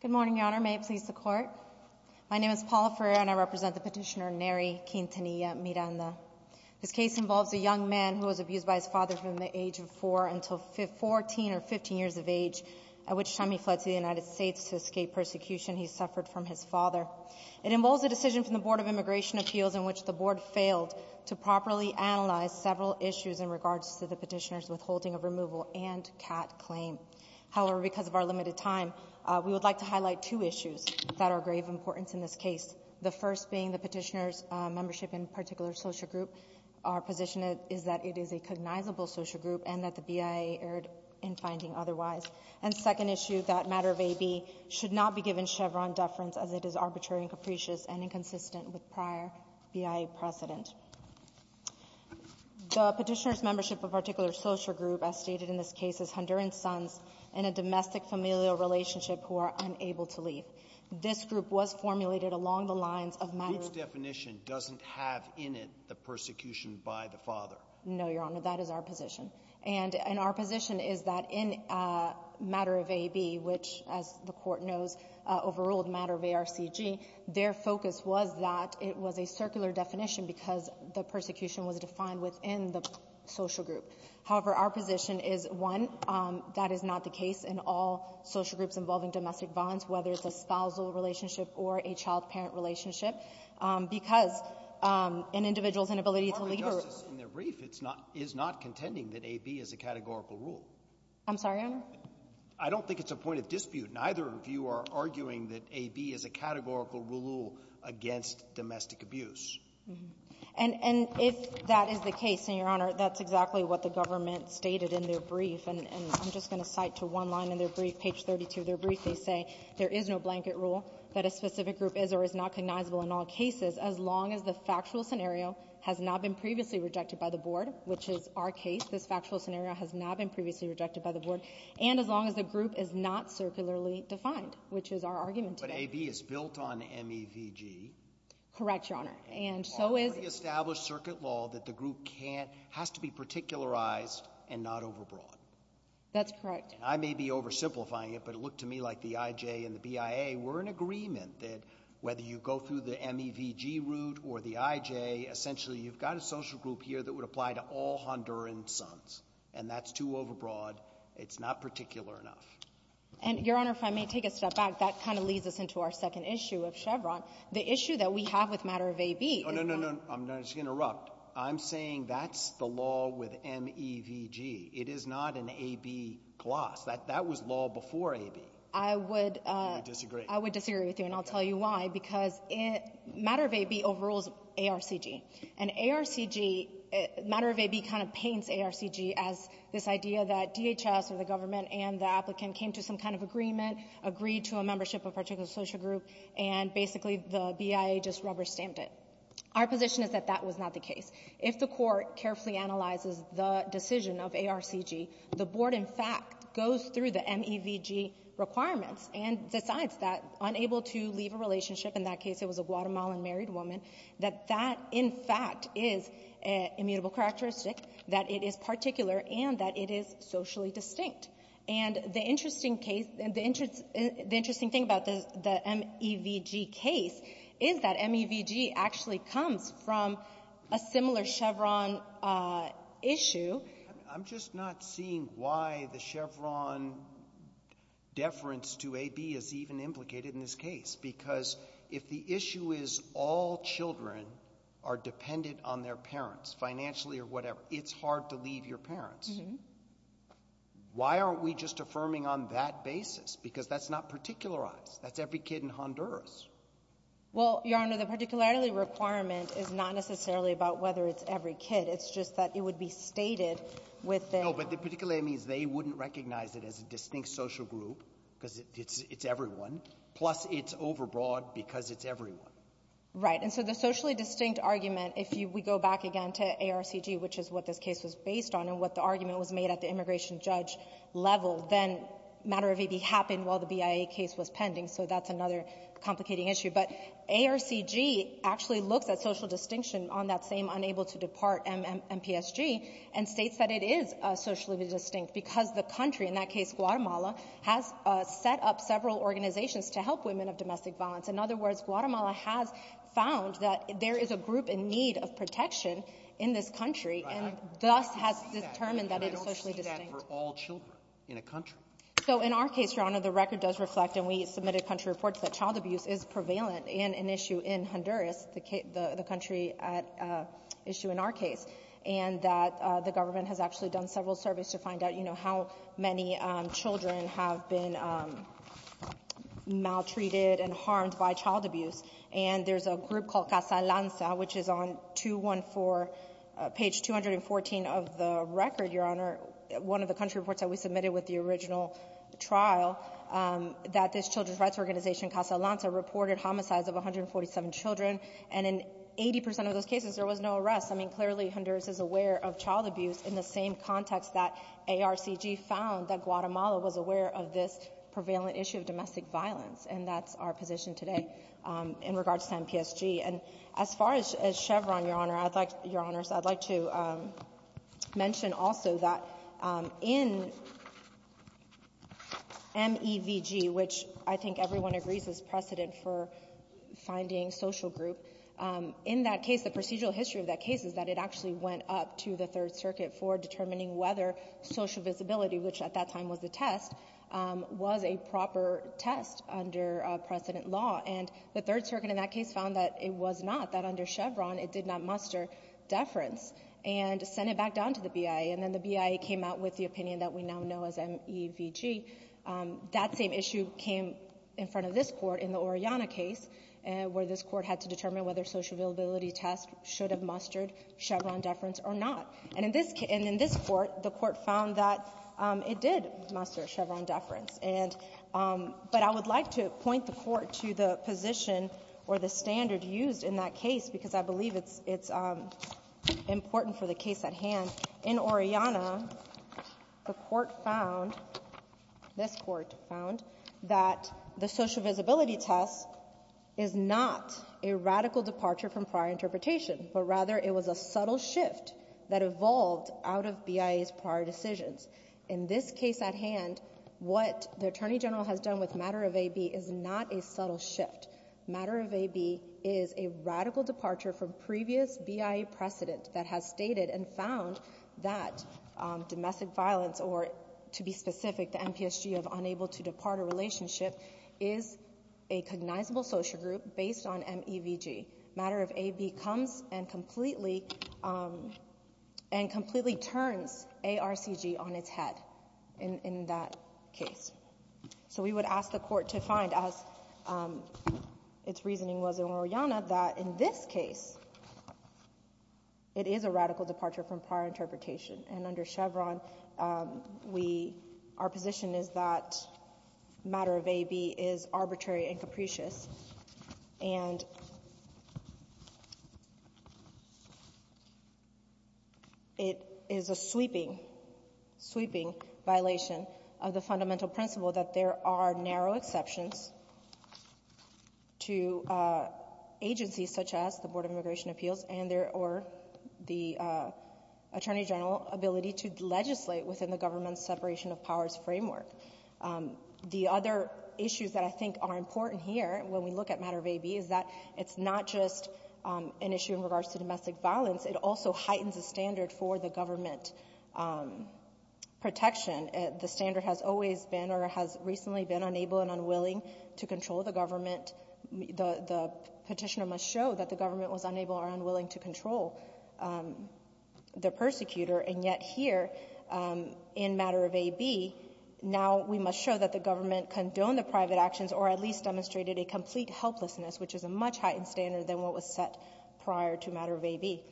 Good morning, Your Honor. May it please the Court. My name is Paula Ferrer and I represent the petitioner Nery Quintanilla-Miranda. This case involves a young man who was abused by his father from the age of four until 14 or 15 years of age, at which time he fled to the United States to escape persecution he suffered from his father. It involves a decision from the Board of Immigration Appeals in which the Board failed to properly analyze several issues in regards to the petitioner's withholding of removal and CAT claim. However, because of our limited time, we would like to highlight two issues that are of grave importance in this case, the first being the petitioner's membership in a particular social group. Our position is that it is a cognizable social group and that the BIA erred in finding otherwise. And second issue, that matter of AB should not be given Chevron deference as it is arbitrary and capricious and inconsistent with prior BIA precedent. The petitioner's membership of a particular social group, as stated in this case, is Honduran sons in a domestic familial relationship who are unable to leave. This group was formulated along the lines of matter of AB. Breyer. The group's definition doesn't have in it the persecution by the father. Ferrer. No, Your Honor. That is our position. And our position is that in matter of AB, which, as the Court knows, overruled matter of ARCG, their focus was that it was a circular definition because the persecution was defined within the social group. However, our position is, one, that is not the case in all social groups involving domestic violence, whether it's a spousal relationship or a child-parent relationship, because an individual's inability to leave a group — Breyer. Your Honor, in their brief, it's not — is not contending that AB is a categorical rule. Ferrer. I'm sorry, Your Honor? Breyer. I don't think it's a point of dispute. Neither of you are arguing that AB is a categorical rule against domestic abuse. Ferrer. And if that is the case, and, Your Honor, that's exactly what the government stated in their brief, and I'm just going to cite to one line in their brief, page 32 of their brief. They say there is no blanket rule that a specific group is or is not cognizable in all cases as long as the factual scenario has not been previously rejected by the board, which is our case. This factual scenario has not been previously rejected by the board, and as long as the group is not circularly defined, which is our argument today. Breyer. But AB is built on MEVG. Ferrer. Correct, Your Honor. And so is — Breyer. And our pre-established circuit law that the group can't — has to be particularized and not overbroad. Ferrer. That's correct. Breyer. And I may be oversimplifying it, but it looked to me like the IJ and the BIA were in agreement that whether you go through the MEVG route or the IJ, essentially you've got a social group here that would apply to all Honduran sons. And that's too overbroad. It's not particular enough. Ferrer. And, Your Honor, if I may take a step back, that kind of leads us into our second issue of Chevron. The issue that we have with matter of AB is that — Breyer. Oh, no, no, no. I'm going to interrupt. I'm saying that's the law with MEVG. It is not an AB clause. That was law before AB. Ferrer. I would — Breyer. I would disagree. Ferrer. I would disagree with you, and I'll tell you why. Because matter of AB overrules ARCG. And ARCG — matter of AB kind of paints ARCG as this idea that DHS or the applicant came to some kind of agreement, agreed to a membership of a particular social group, and basically the BIA just rubber-stamped it. Our position is that that was not the case. If the Court carefully analyzes the decision of ARCG, the Board, in fact, goes through the MEVG requirements and decides that, unable to leave a relationship — in that case, it was a Guatemalan married woman — that that, in fact, is immutable characteristic, that it is particular, and that it is socially distinct. And the interesting case — the interesting thing about the MEVG case is that MEVG actually comes from a similar Chevron issue. Breyer. I'm just not seeing why the Chevron deference to AB is even implicated in this case. Because if the issue is all children are dependent on their parents financially or whatever, it's hard to leave your parents. Why aren't we just affirming on that basis? Because that's not particularized. That's every kid in Honduras. Well, Your Honor, the particularity requirement is not necessarily about whether it's every kid. It's just that it would be stated within — No, but the particularity means they wouldn't recognize it as a distinct social group because it's everyone, plus it's overbroad because it's everyone. Right. And so the socially distinct argument, if we go back again to ARCG, which is what this case was based on and what the argument was made at the immigration judge level, then matter of AB happened while the BIA case was pending. So that's another complicating issue. But ARCG actually looks at social distinction on that same unable-to-depart MPSG and states that it is socially distinct because the country, in that case Guatemala, has set up several organizations to help women of domestic violence. In other words, Guatemala has found that there is a group in need of protection in this country and thus has determined that it is socially distinct. But I don't see that for all children in a country. So in our case, Your Honor, the record does reflect, and we submitted country reports, that child abuse is prevalent in an issue in Honduras, the country issue in our case, and that the government has actually done several surveys to find out, you know, how many children have been maltreated and harmed by child abuse. And there's a group called Casa Alonza, which is on 214, page 214 of the record, Your Honor, one of the country reports that we submitted with the original trial, that this children's rights organization, Casa Alonza, reported homicides of 147 children, and in 80 percent of those cases there was no arrest. I mean, clearly Honduras is aware of child abuse in the same context that ARCG found that Guatemala was aware of this prevalent issue of domestic violence, and that's our position today in regards to MPSG. And as far as Chevron, Your Honor, I'd like to mention also that in MEVG, which I think everyone agrees is precedent for finding social group, in that case, the procedural history of that case is that it actually went up to the Third Circuit for determining whether social visibility, which at that time was the test, was a proper test under precedent law. And the Third Circuit in that case found that it was not, that under Chevron it did not muster deference and sent it back down to the BIA. And then the BIA came out with the opinion that we now know as MEVG. That same issue came in front of this Court in the Orellana case, where this Court had to determine whether social visibility test should have mustered Chevron deference or not. And in this case, and in this Court, the Court found that it did muster Chevron deference. And, but I would like to point the Court to the position or the standard used in that case, because I believe it's important for the case at hand. In Orellana, the Court found, this Court found, that the social visibility test is not a radical departure from prior interpretation, but rather it was a subtle shift that evolved out of BIA's prior decisions. In this case at hand, what the Attorney General has done with matter of AB is not a subtle shift. Matter of AB is a radical departure from previous BIA precedent that has stated and found that domestic violence or, to be specific, the MPSG of unable to depart a relationship is a cognizable social group based on MEVG. Matter of AB comes and completely, and completely turns ARCG on its head in that case. So we would ask the Court to find, as its reasoning was in Orellana, that in this case it is a radical departure from prior interpretation. And under Chevron, we — our position is that matter of AB is arbitrary and capricious, and it is a sweeping, sweeping violation of the fundamental principle that there are narrow exceptions to agencies such as the Board of Immigration Appeals and their or the Attorney General ability to legislate within the government's separation of powers framework. The other issues that I think are important here when we look at matter of AB is that it's not just an issue in regards to domestic violence. It also heightens the standard for the government protection. The standard has always been or has recently been unable and unwilling to control the government. The Petitioner must show that the government was unable or unwilling to control the persecutor. And yet here in matter of AB, now we must show that the government condoned the private actions or at least demonstrated a complete helplessness, which is a much heightened standard than what was set prior to matter of AB.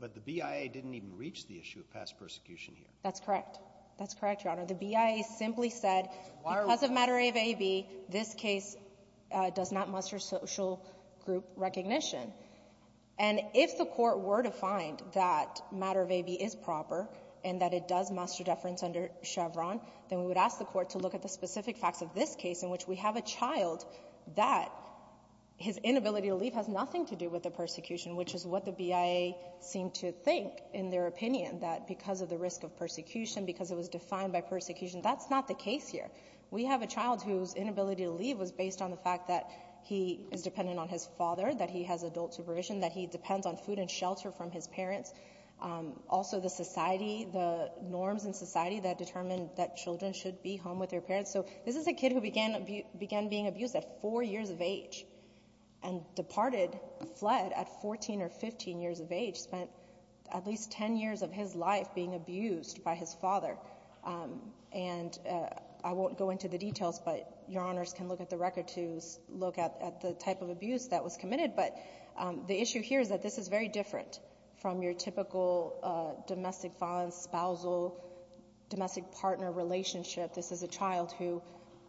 But the BIA didn't even reach the issue of past persecution here. That's correct. That's correct, Your Honor. The BIA simply said because of matter of AB, this case does not muster social group recognition. And if the Court were to find that matter of AB is proper and that it does muster deference under Chevron, then we would ask the Court to look at the specific facts of this case in which we have a child that his inability to leave has nothing to do with the persecution, which is what the BIA seemed to think in their opinion, that because of the risk of persecution, because it was defined by persecution, that's not the case here. We have a child whose inability to leave was based on the fact that he is dependent on his father, that he has adult supervision, that he depends on food and shelter from his parents. Also, the society, the norms in society that determine that children should be home with their parents. So this is a kid who began being abused at four years of age and departed, fled at 14 or 15 years of age, spent at least 10 years of his life being abused by his father. And I won't go into the details, but Your Honors can look at the record to look at the type of abuse that was committed. But the issue here is that this is very different from your typical domestic father and spousal, domestic partner relationship. This is a child who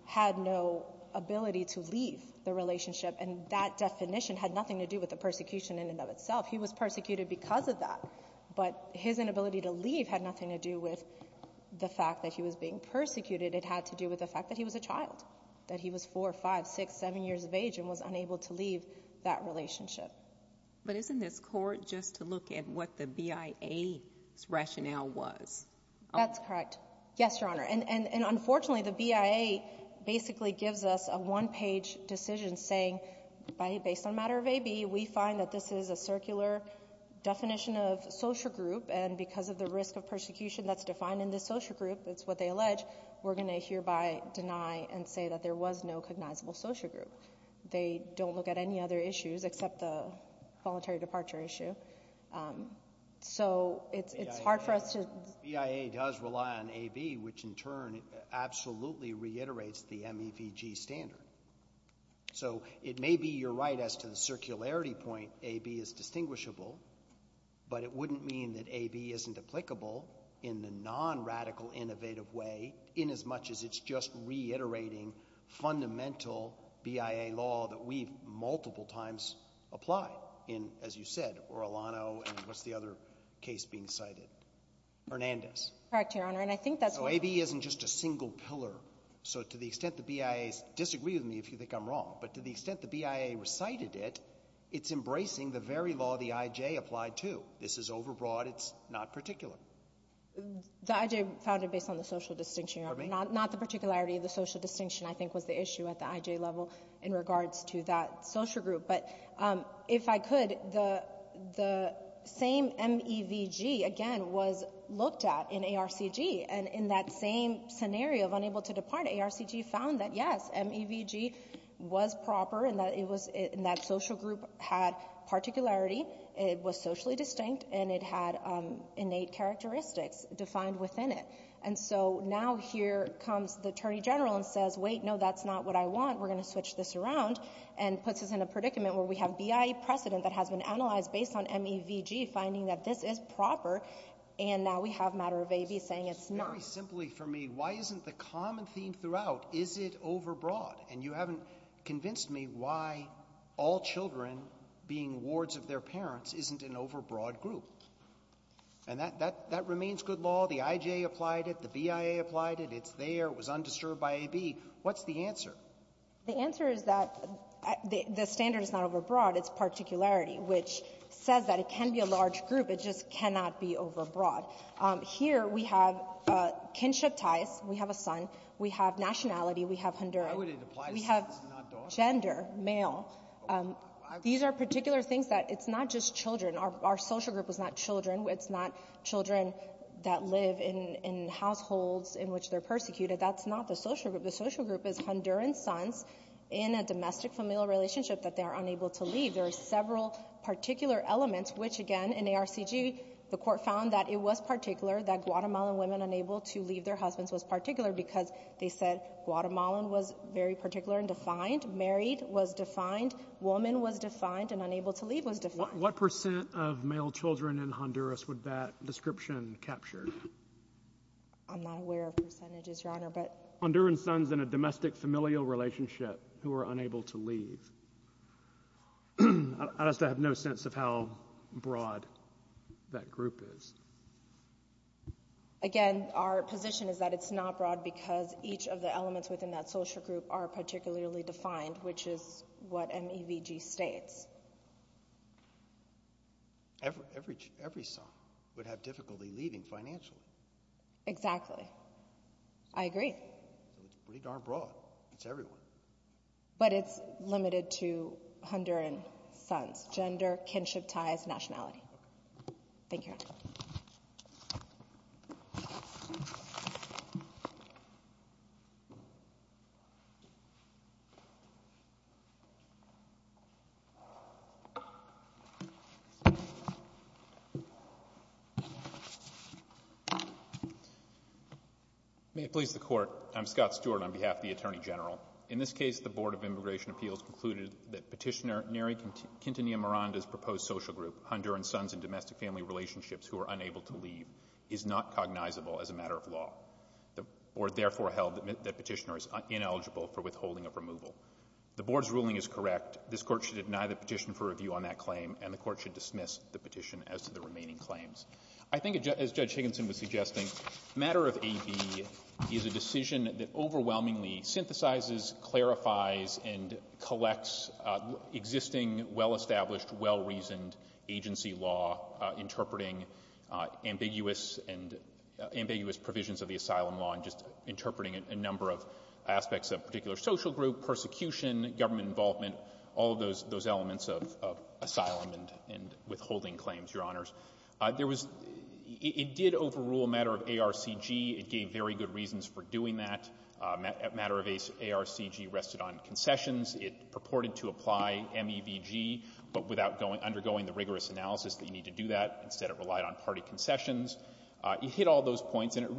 had no ability to leave the relationship, and that definition had nothing to do with the persecution in and of itself. He was persecuted because of that. But his inability to leave had nothing to do with the fact that he was being persecuted. It had to do with the fact that he was a child, that he was four, five, six, seven years of age and was unable to leave that relationship. But isn't this court just to look at what the BIA's rationale was? That's correct. Yes, Your Honor. And, unfortunately, the BIA basically gives us a one-page decision saying, based on a matter of AB, we find that this is a circular definition of social group, and because of the risk of persecution that's defined in this social group, it's what they allege, we're going to hereby deny and say that there was no cognizable social group. They don't look at any other issues except the voluntary departure issue. So it's hard for us to... And, in turn, it absolutely reiterates the MEVG standard. So it may be you're right as to the circularity point, AB is distinguishable, but it wouldn't mean that AB isn't applicable in the non-radical innovative way in as much as it's just reiterating fundamental BIA law that we've multiple times applied in, as you said, Orlano and what's the other case being cited? Hernandez. Correct, Your Honor. And I think that's why... So AB isn't just a single pillar. So to the extent the BIAs disagree with me, if you think I'm wrong, but to the extent the BIA recited it, it's embracing the very law the IJ applied to. This is overbroad. It's not particular. The IJ found it based on the social distinction, Your Honor. For me? Not the particularity of the social distinction, I think, was the issue at the IJ level in regards to that social group. But if I could, the same MEVG, again, was looked at in ARCG. And in that same scenario of unable to depart, ARCG found that, yes, MEVG was proper and that social group had particularity, it was socially distinct, and it had innate characteristics defined within it. And so now here comes the Attorney General and says, wait, no, that's not what I want. We're going to switch this around, and puts us in a predicament where we have BIA precedent that has been analyzed based on MEVG finding that this is proper, and now we have a matter of AB saying it's not. Very simply for me, why isn't the common theme throughout, is it overbroad? And you haven't convinced me why all children, being wards of their parents, isn't an overbroad group. And that remains good law. The IJ applied it. The BIA applied it. It's there. It was undisturbed by AB. What's the answer? The answer is that the standard is not overbroad. It's particularity, which says that it can be a large group. It just cannot be overbroad. Here we have kinship ties. We have a son. We have nationality. We have Honduran. Why would it apply to sons and not daughters? We have gender, male. These are particular things that it's not just children. Our social group was not children. It's not children that live in households in which they're persecuted. That's not the social group. The social group is Honduran sons in a domestic-familial relationship that they are unable to leave. There are several particular elements, which, again, in ARCG, the Court found that it was particular, that Guatemalan women unable to leave their husbands was particular because they said Guatemalan was very particular and defined. Married was defined. Woman was defined. And unable to leave was defined. What percent of male children in Honduras would that description capture? I'm not aware of percentages, Your Honor. Honduran sons in a domestic-familial relationship who are unable to leave. I just have no sense of how broad that group is. Again, our position is that it's not broad because each of the elements within that social group are particularly defined, which is what MEVG states. Every son would have difficulty leaving financially. Exactly. I agree. So it's pretty darn broad. It's everywhere. But it's limited to Honduran sons, gender, kinship, ties, nationality. Thank you, Your Honor. May it please the Court. I'm Scott Stewart on behalf of the Attorney General. In this case, the Board of Immigration Appeals concluded that Petitioner Neri Quintanilla Miranda's proposed social group, Honduran sons in domestic-family relationships who are unable to leave, is not cognizable as a matter of law. The Board therefore held that Petitioner is ineligible for withholding of removal. The Board's ruling is correct. This Court should deny the petition for review on that claim, and the Court should dismiss the petition as to the remaining claims. I think, as Judge Higginson was suggesting, matter of AB is a decision that overwhelmingly synthesizes, clarifies, and collects existing well-established, well-reasoned agency law interpreting ambiguous and ambiguous provisions of the asylum law and just all of those elements of asylum and withholding claims, Your Honors. There was — it did overrule a matter of ARCG. It gave very good reasons for doing that. A matter of ARCG rested on concessions. It purported to apply MEVG, but without undergoing the rigorous analysis that you need to do that. Instead, it relied on party concessions. It hit all those points, and it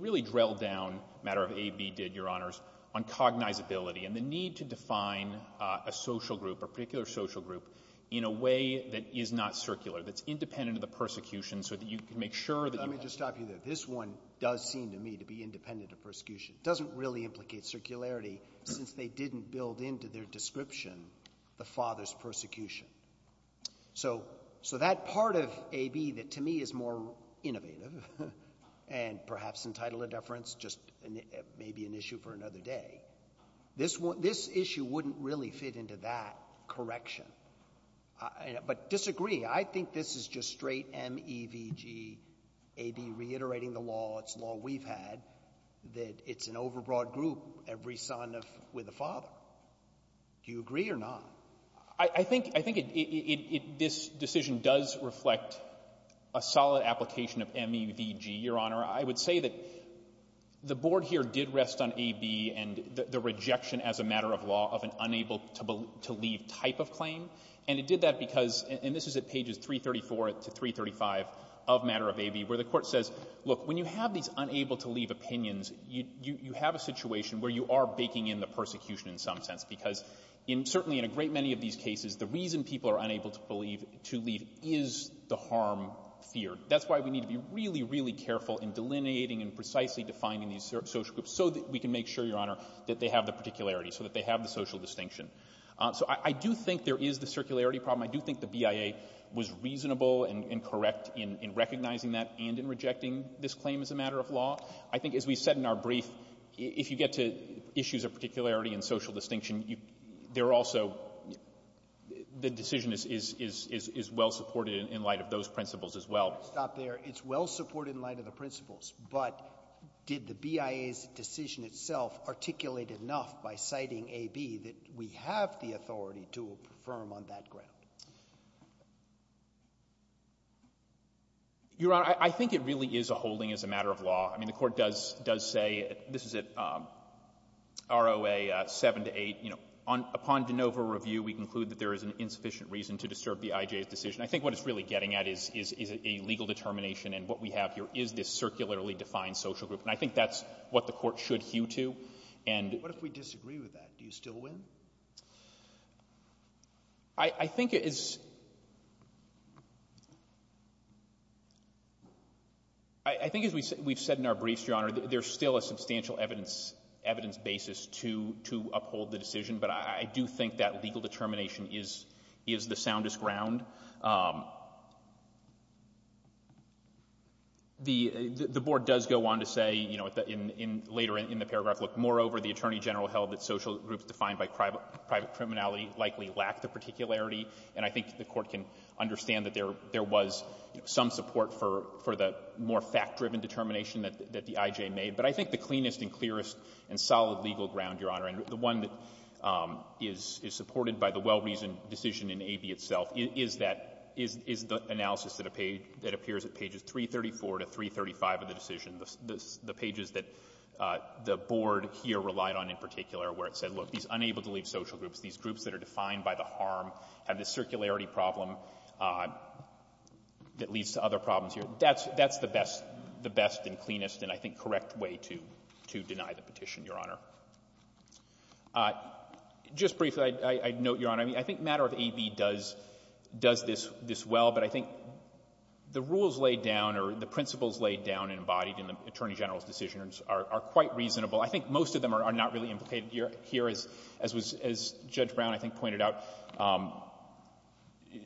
really drilled down, matter of AB did, Your Honors, on cognizability and the need to define a social group, a particular social group, in a way that is not circular, that's independent of the persecution so that you can make sure that — Let me just stop you there. This one does seem to me to be independent of persecution. It doesn't really implicate circularity since they didn't build into their description the father's persecution. So that part of AB that to me is more innovative and perhaps entitled to deference, just maybe an issue for another day. This issue wouldn't really fit into that correction. But disagree. I think this is just straight MEVG, AB reiterating the law, it's a law we've had, that it's an overbroad group, every son with a father. Do you agree or not? I think this decision does reflect a solid application of MEVG, Your Honor. I would say that the Board here did rest on AB and the rejection as a matter of law of an unable-to-leave type of claim. And it did that because — and this is at pages 334 to 335 of matter of AB, where the Court says, look, when you have these unable-to-leave opinions, you have a situation where you are baking in the persecution in some sense. Because certainly in a great many of these cases, the reason people are unable to leave is the harm feared. That's why we need to be really, really careful in delineating and precisely defining these social groups so that we can make sure, Your Honor, that they have the particularity, so that they have the social distinction. So I do think there is the circularity problem. I do think the BIA was reasonable and correct in recognizing that and in rejecting this claim as a matter of law. I think, as we said in our brief, if you get to issues of particularity and social distinction, there are also — the decision is well-supported in light of those principles as well. Stop there. It's well-supported in light of the principles, but did the BIA's decision itself articulate enough by citing AB that we have the authority to affirm on that ground? Your Honor, I think it really is a holding as a matter of law. I mean, the Court does — does say — this is at ROA 7 to 8. You know, upon de novo review, we conclude that there is an insufficient reason to disturb the IJ's decision. I think what it's really getting at is a legal determination, and what we have here is this circularly defined social group. And I think that's what the Court should hew to. And — What if we disagree with that? Do you still win? I think it is — I think, as we've said in our briefs, Your Honor, there's still a substantial evidence basis to uphold the decision, but I do think that legal determination is the soundest ground. The Board does go on to say, you know, later in the paragraph, look, moreover, the Attorney General held that social groups defined by private criminality likely lack the particularity. And I think the Court can understand that there was some support for the more fact-driven determination that the IJ made. But I think the cleanest and clearest and solid legal ground, Your Honor, and the one that is supported by the well-reasoned decision in AB itself, is that — is the analysis that appears at pages 334 to 335 of the decision, the pages that the Board here relied on in particular, where it said, look, these unable-to-leave social groups, these groups that are defined by the harm have this circularity problem that leads to other problems here. That's the best and cleanest and, I think, correct way to deny the petition, Your Honor. Just briefly, I'd note, Your Honor, I think matter of AB does this well. But I think the rules laid down or the principles laid down and embodied in the Attorney General's decision are quite reasonable. I think most of them are not really implicated here. As Judge Brown, I think, pointed out,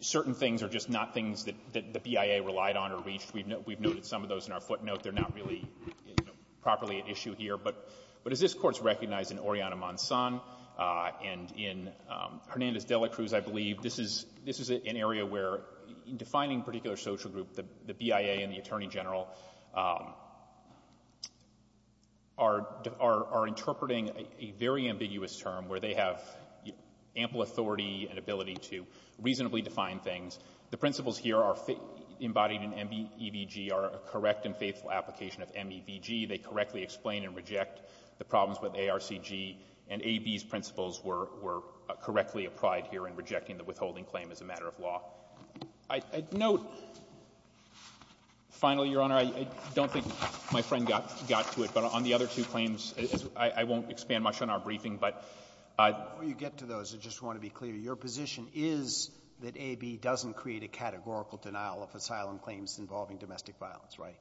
certain things are just not things that the BIA relied on or reached. We've noted some of those in our footnote. They're not really properly at issue here. But as this Court's recognized in Oriana Monson and in Hernandez-Delacruz, I believe, this is an area where, in defining a particular social group, the BIA and the Attorney General are interpreting a very ambiguous term where they have ample authority and ability to reasonably define things. The principles here embodied in MEVG are a correct and faithful application of MEVG. They correctly explain and reject the problems with ARCG. And AB's principles were correctly applied here in rejecting the withholding claim as a matter of law. I'd note, finally, Your Honor, I don't think my friend got to it. But on the other two claims, I won't expand much on our briefing. But I — Roberts. Before you get to those, I just want to be clear. Your position is that AB doesn't create a categorical denial of asylum claims involving domestic violence, right?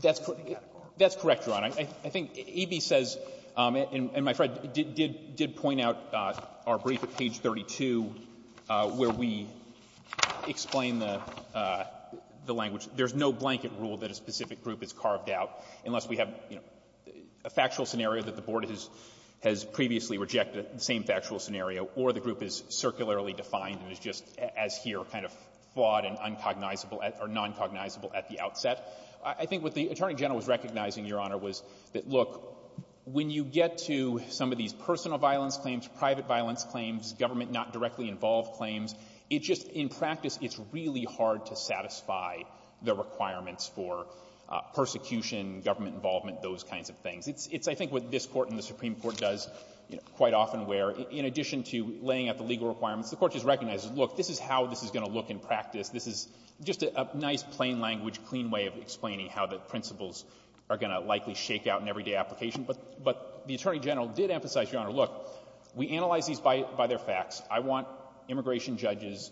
That's correct. That's correct, Your Honor. I think AB says, and my friend did point out our brief at page 32 where we explain the language. There's no blanket rule that a specific group is carved out unless we have, you know, a factual scenario that the Board has previously rejected, the same factual scenario, or the group is circularly defined and is just, as here, kind of flawed and uncognizable at — or noncognizable at the outset. I think what the Attorney General was recognizing, Your Honor, was that, look, when you get to some of these personal violence claims, private violence claims, government not directly involved claims, it just — in practice, it's really hard to satisfy the requirements for persecution, government involvement, those kinds of things. It's, I think, what this Court and the Supreme Court does, you know, quite often where, in addition to laying out the legal requirements, the Court just recognizes, look, this is how this is going to look in practice. This is just a nice, plain-language, clean way of explaining how the principles are going to likely shake out in everyday application. But the Attorney General did emphasize, Your Honor, look, we analyze these by their facts. I want immigration judges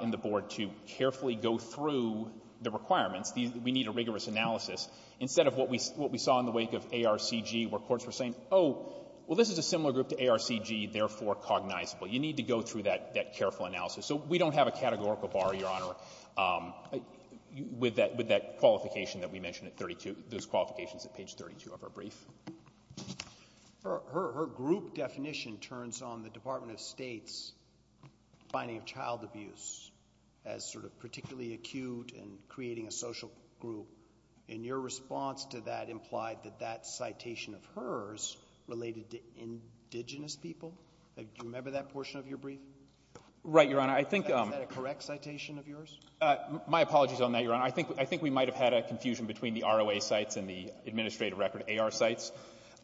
in the Board to carefully go through the requirements. We need a rigorous analysis. Instead of what we saw in the wake of ARCG where courts were saying, oh, well, this is a similar group to ARCG, therefore cognizable. You need to go through that careful analysis. So we don't have a categorical bar, Your Honor, with that qualification that we mentioned at 32 — those qualifications at page 32 of our brief. Her group definition turns on the Department of State's finding of child abuse as sort of particularly acute and creating a social group. And your response to that implied that that citation of hers related to indigenous people. Do you remember that portion of your brief? Right, Your Honor. I think — Is that a correct citation of yours? My apologies on that, Your Honor. I think we might have had a confusion between the ROA cites and the administrative record AR cites.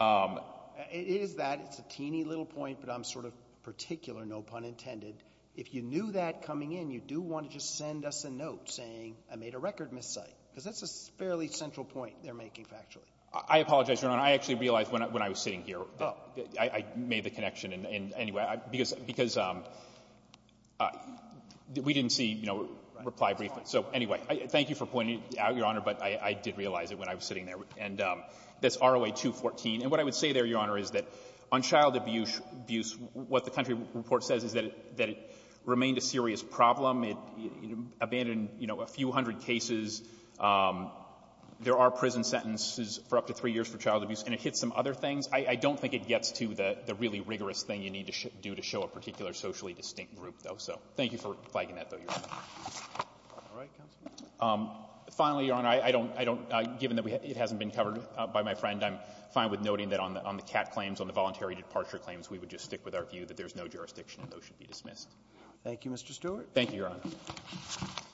It is that. It's a teeny little point, but I'm sort of particular, no pun intended. If you knew that coming in, you do want to just send us a note saying, I made a record miscite, because that's a fairly central point they're making factually. I apologize, Your Honor. I actually realized when I was sitting here. Oh. I made the connection. And anyway, because we didn't see, you know, reply briefly. Right. So anyway, thank you for pointing it out, Your Honor, but I did realize it when I was sitting there. And that's ROA 214. And what I would say there, Your Honor, is that on child abuse, what the country report says is that it remained a serious problem. It abandoned, you know, a few hundred cases. There are prison sentences for up to three years for child abuse. And it hits some other things. I don't think it gets to the really rigorous thing you need to do to show a particular socially distinct group, though. So thank you for flagging that, though, Your Honor. Finally, Your Honor, I don't — given that it hasn't been covered by my friend, I'm fine with noting that on the CAT claims, on the voluntary departure claims, we would just stick with our view that there's no jurisdiction and those should Thank you, Mr. Stewart. Thank you, Your Honor. Thank you, Your Honor.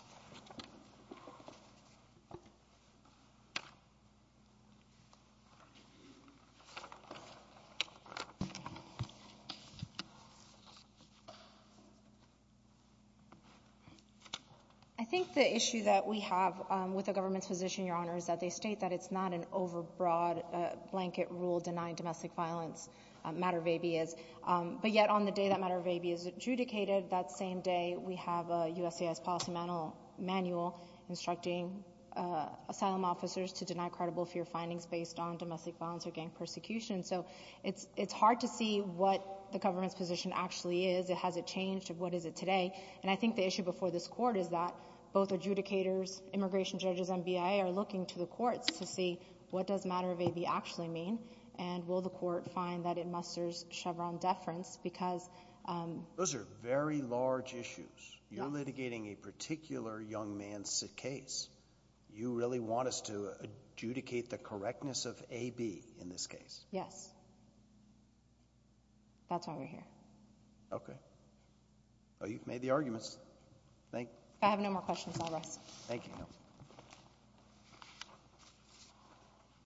I think the issue that we have with the government's position, Your Honor, is that they state that it's not an overbroad blanket rule denying domestic violence, mater vebi is. But yet on the day that mater vebi is adjudicated, that same day, we have a USCIS policy manual instructing asylum officers to deny credible fear findings based on domestic violence or gang persecution. So it's hard to see what the government's position actually is. Has it changed? What is it today? And I think the issue before this Court is that both adjudicators, immigration judges and BIA are looking to the courts to see what does mater vebi actually mean and will the court find that it musters Chevron deference because Those are very large issues. You're litigating a particular young man's case. You really want us to adjudicate the correctness of AB in this case. Yes. That's why we're here. Okay. Well, you've made the arguments. Thank you. I have no more questions. I'll rest. Thank you.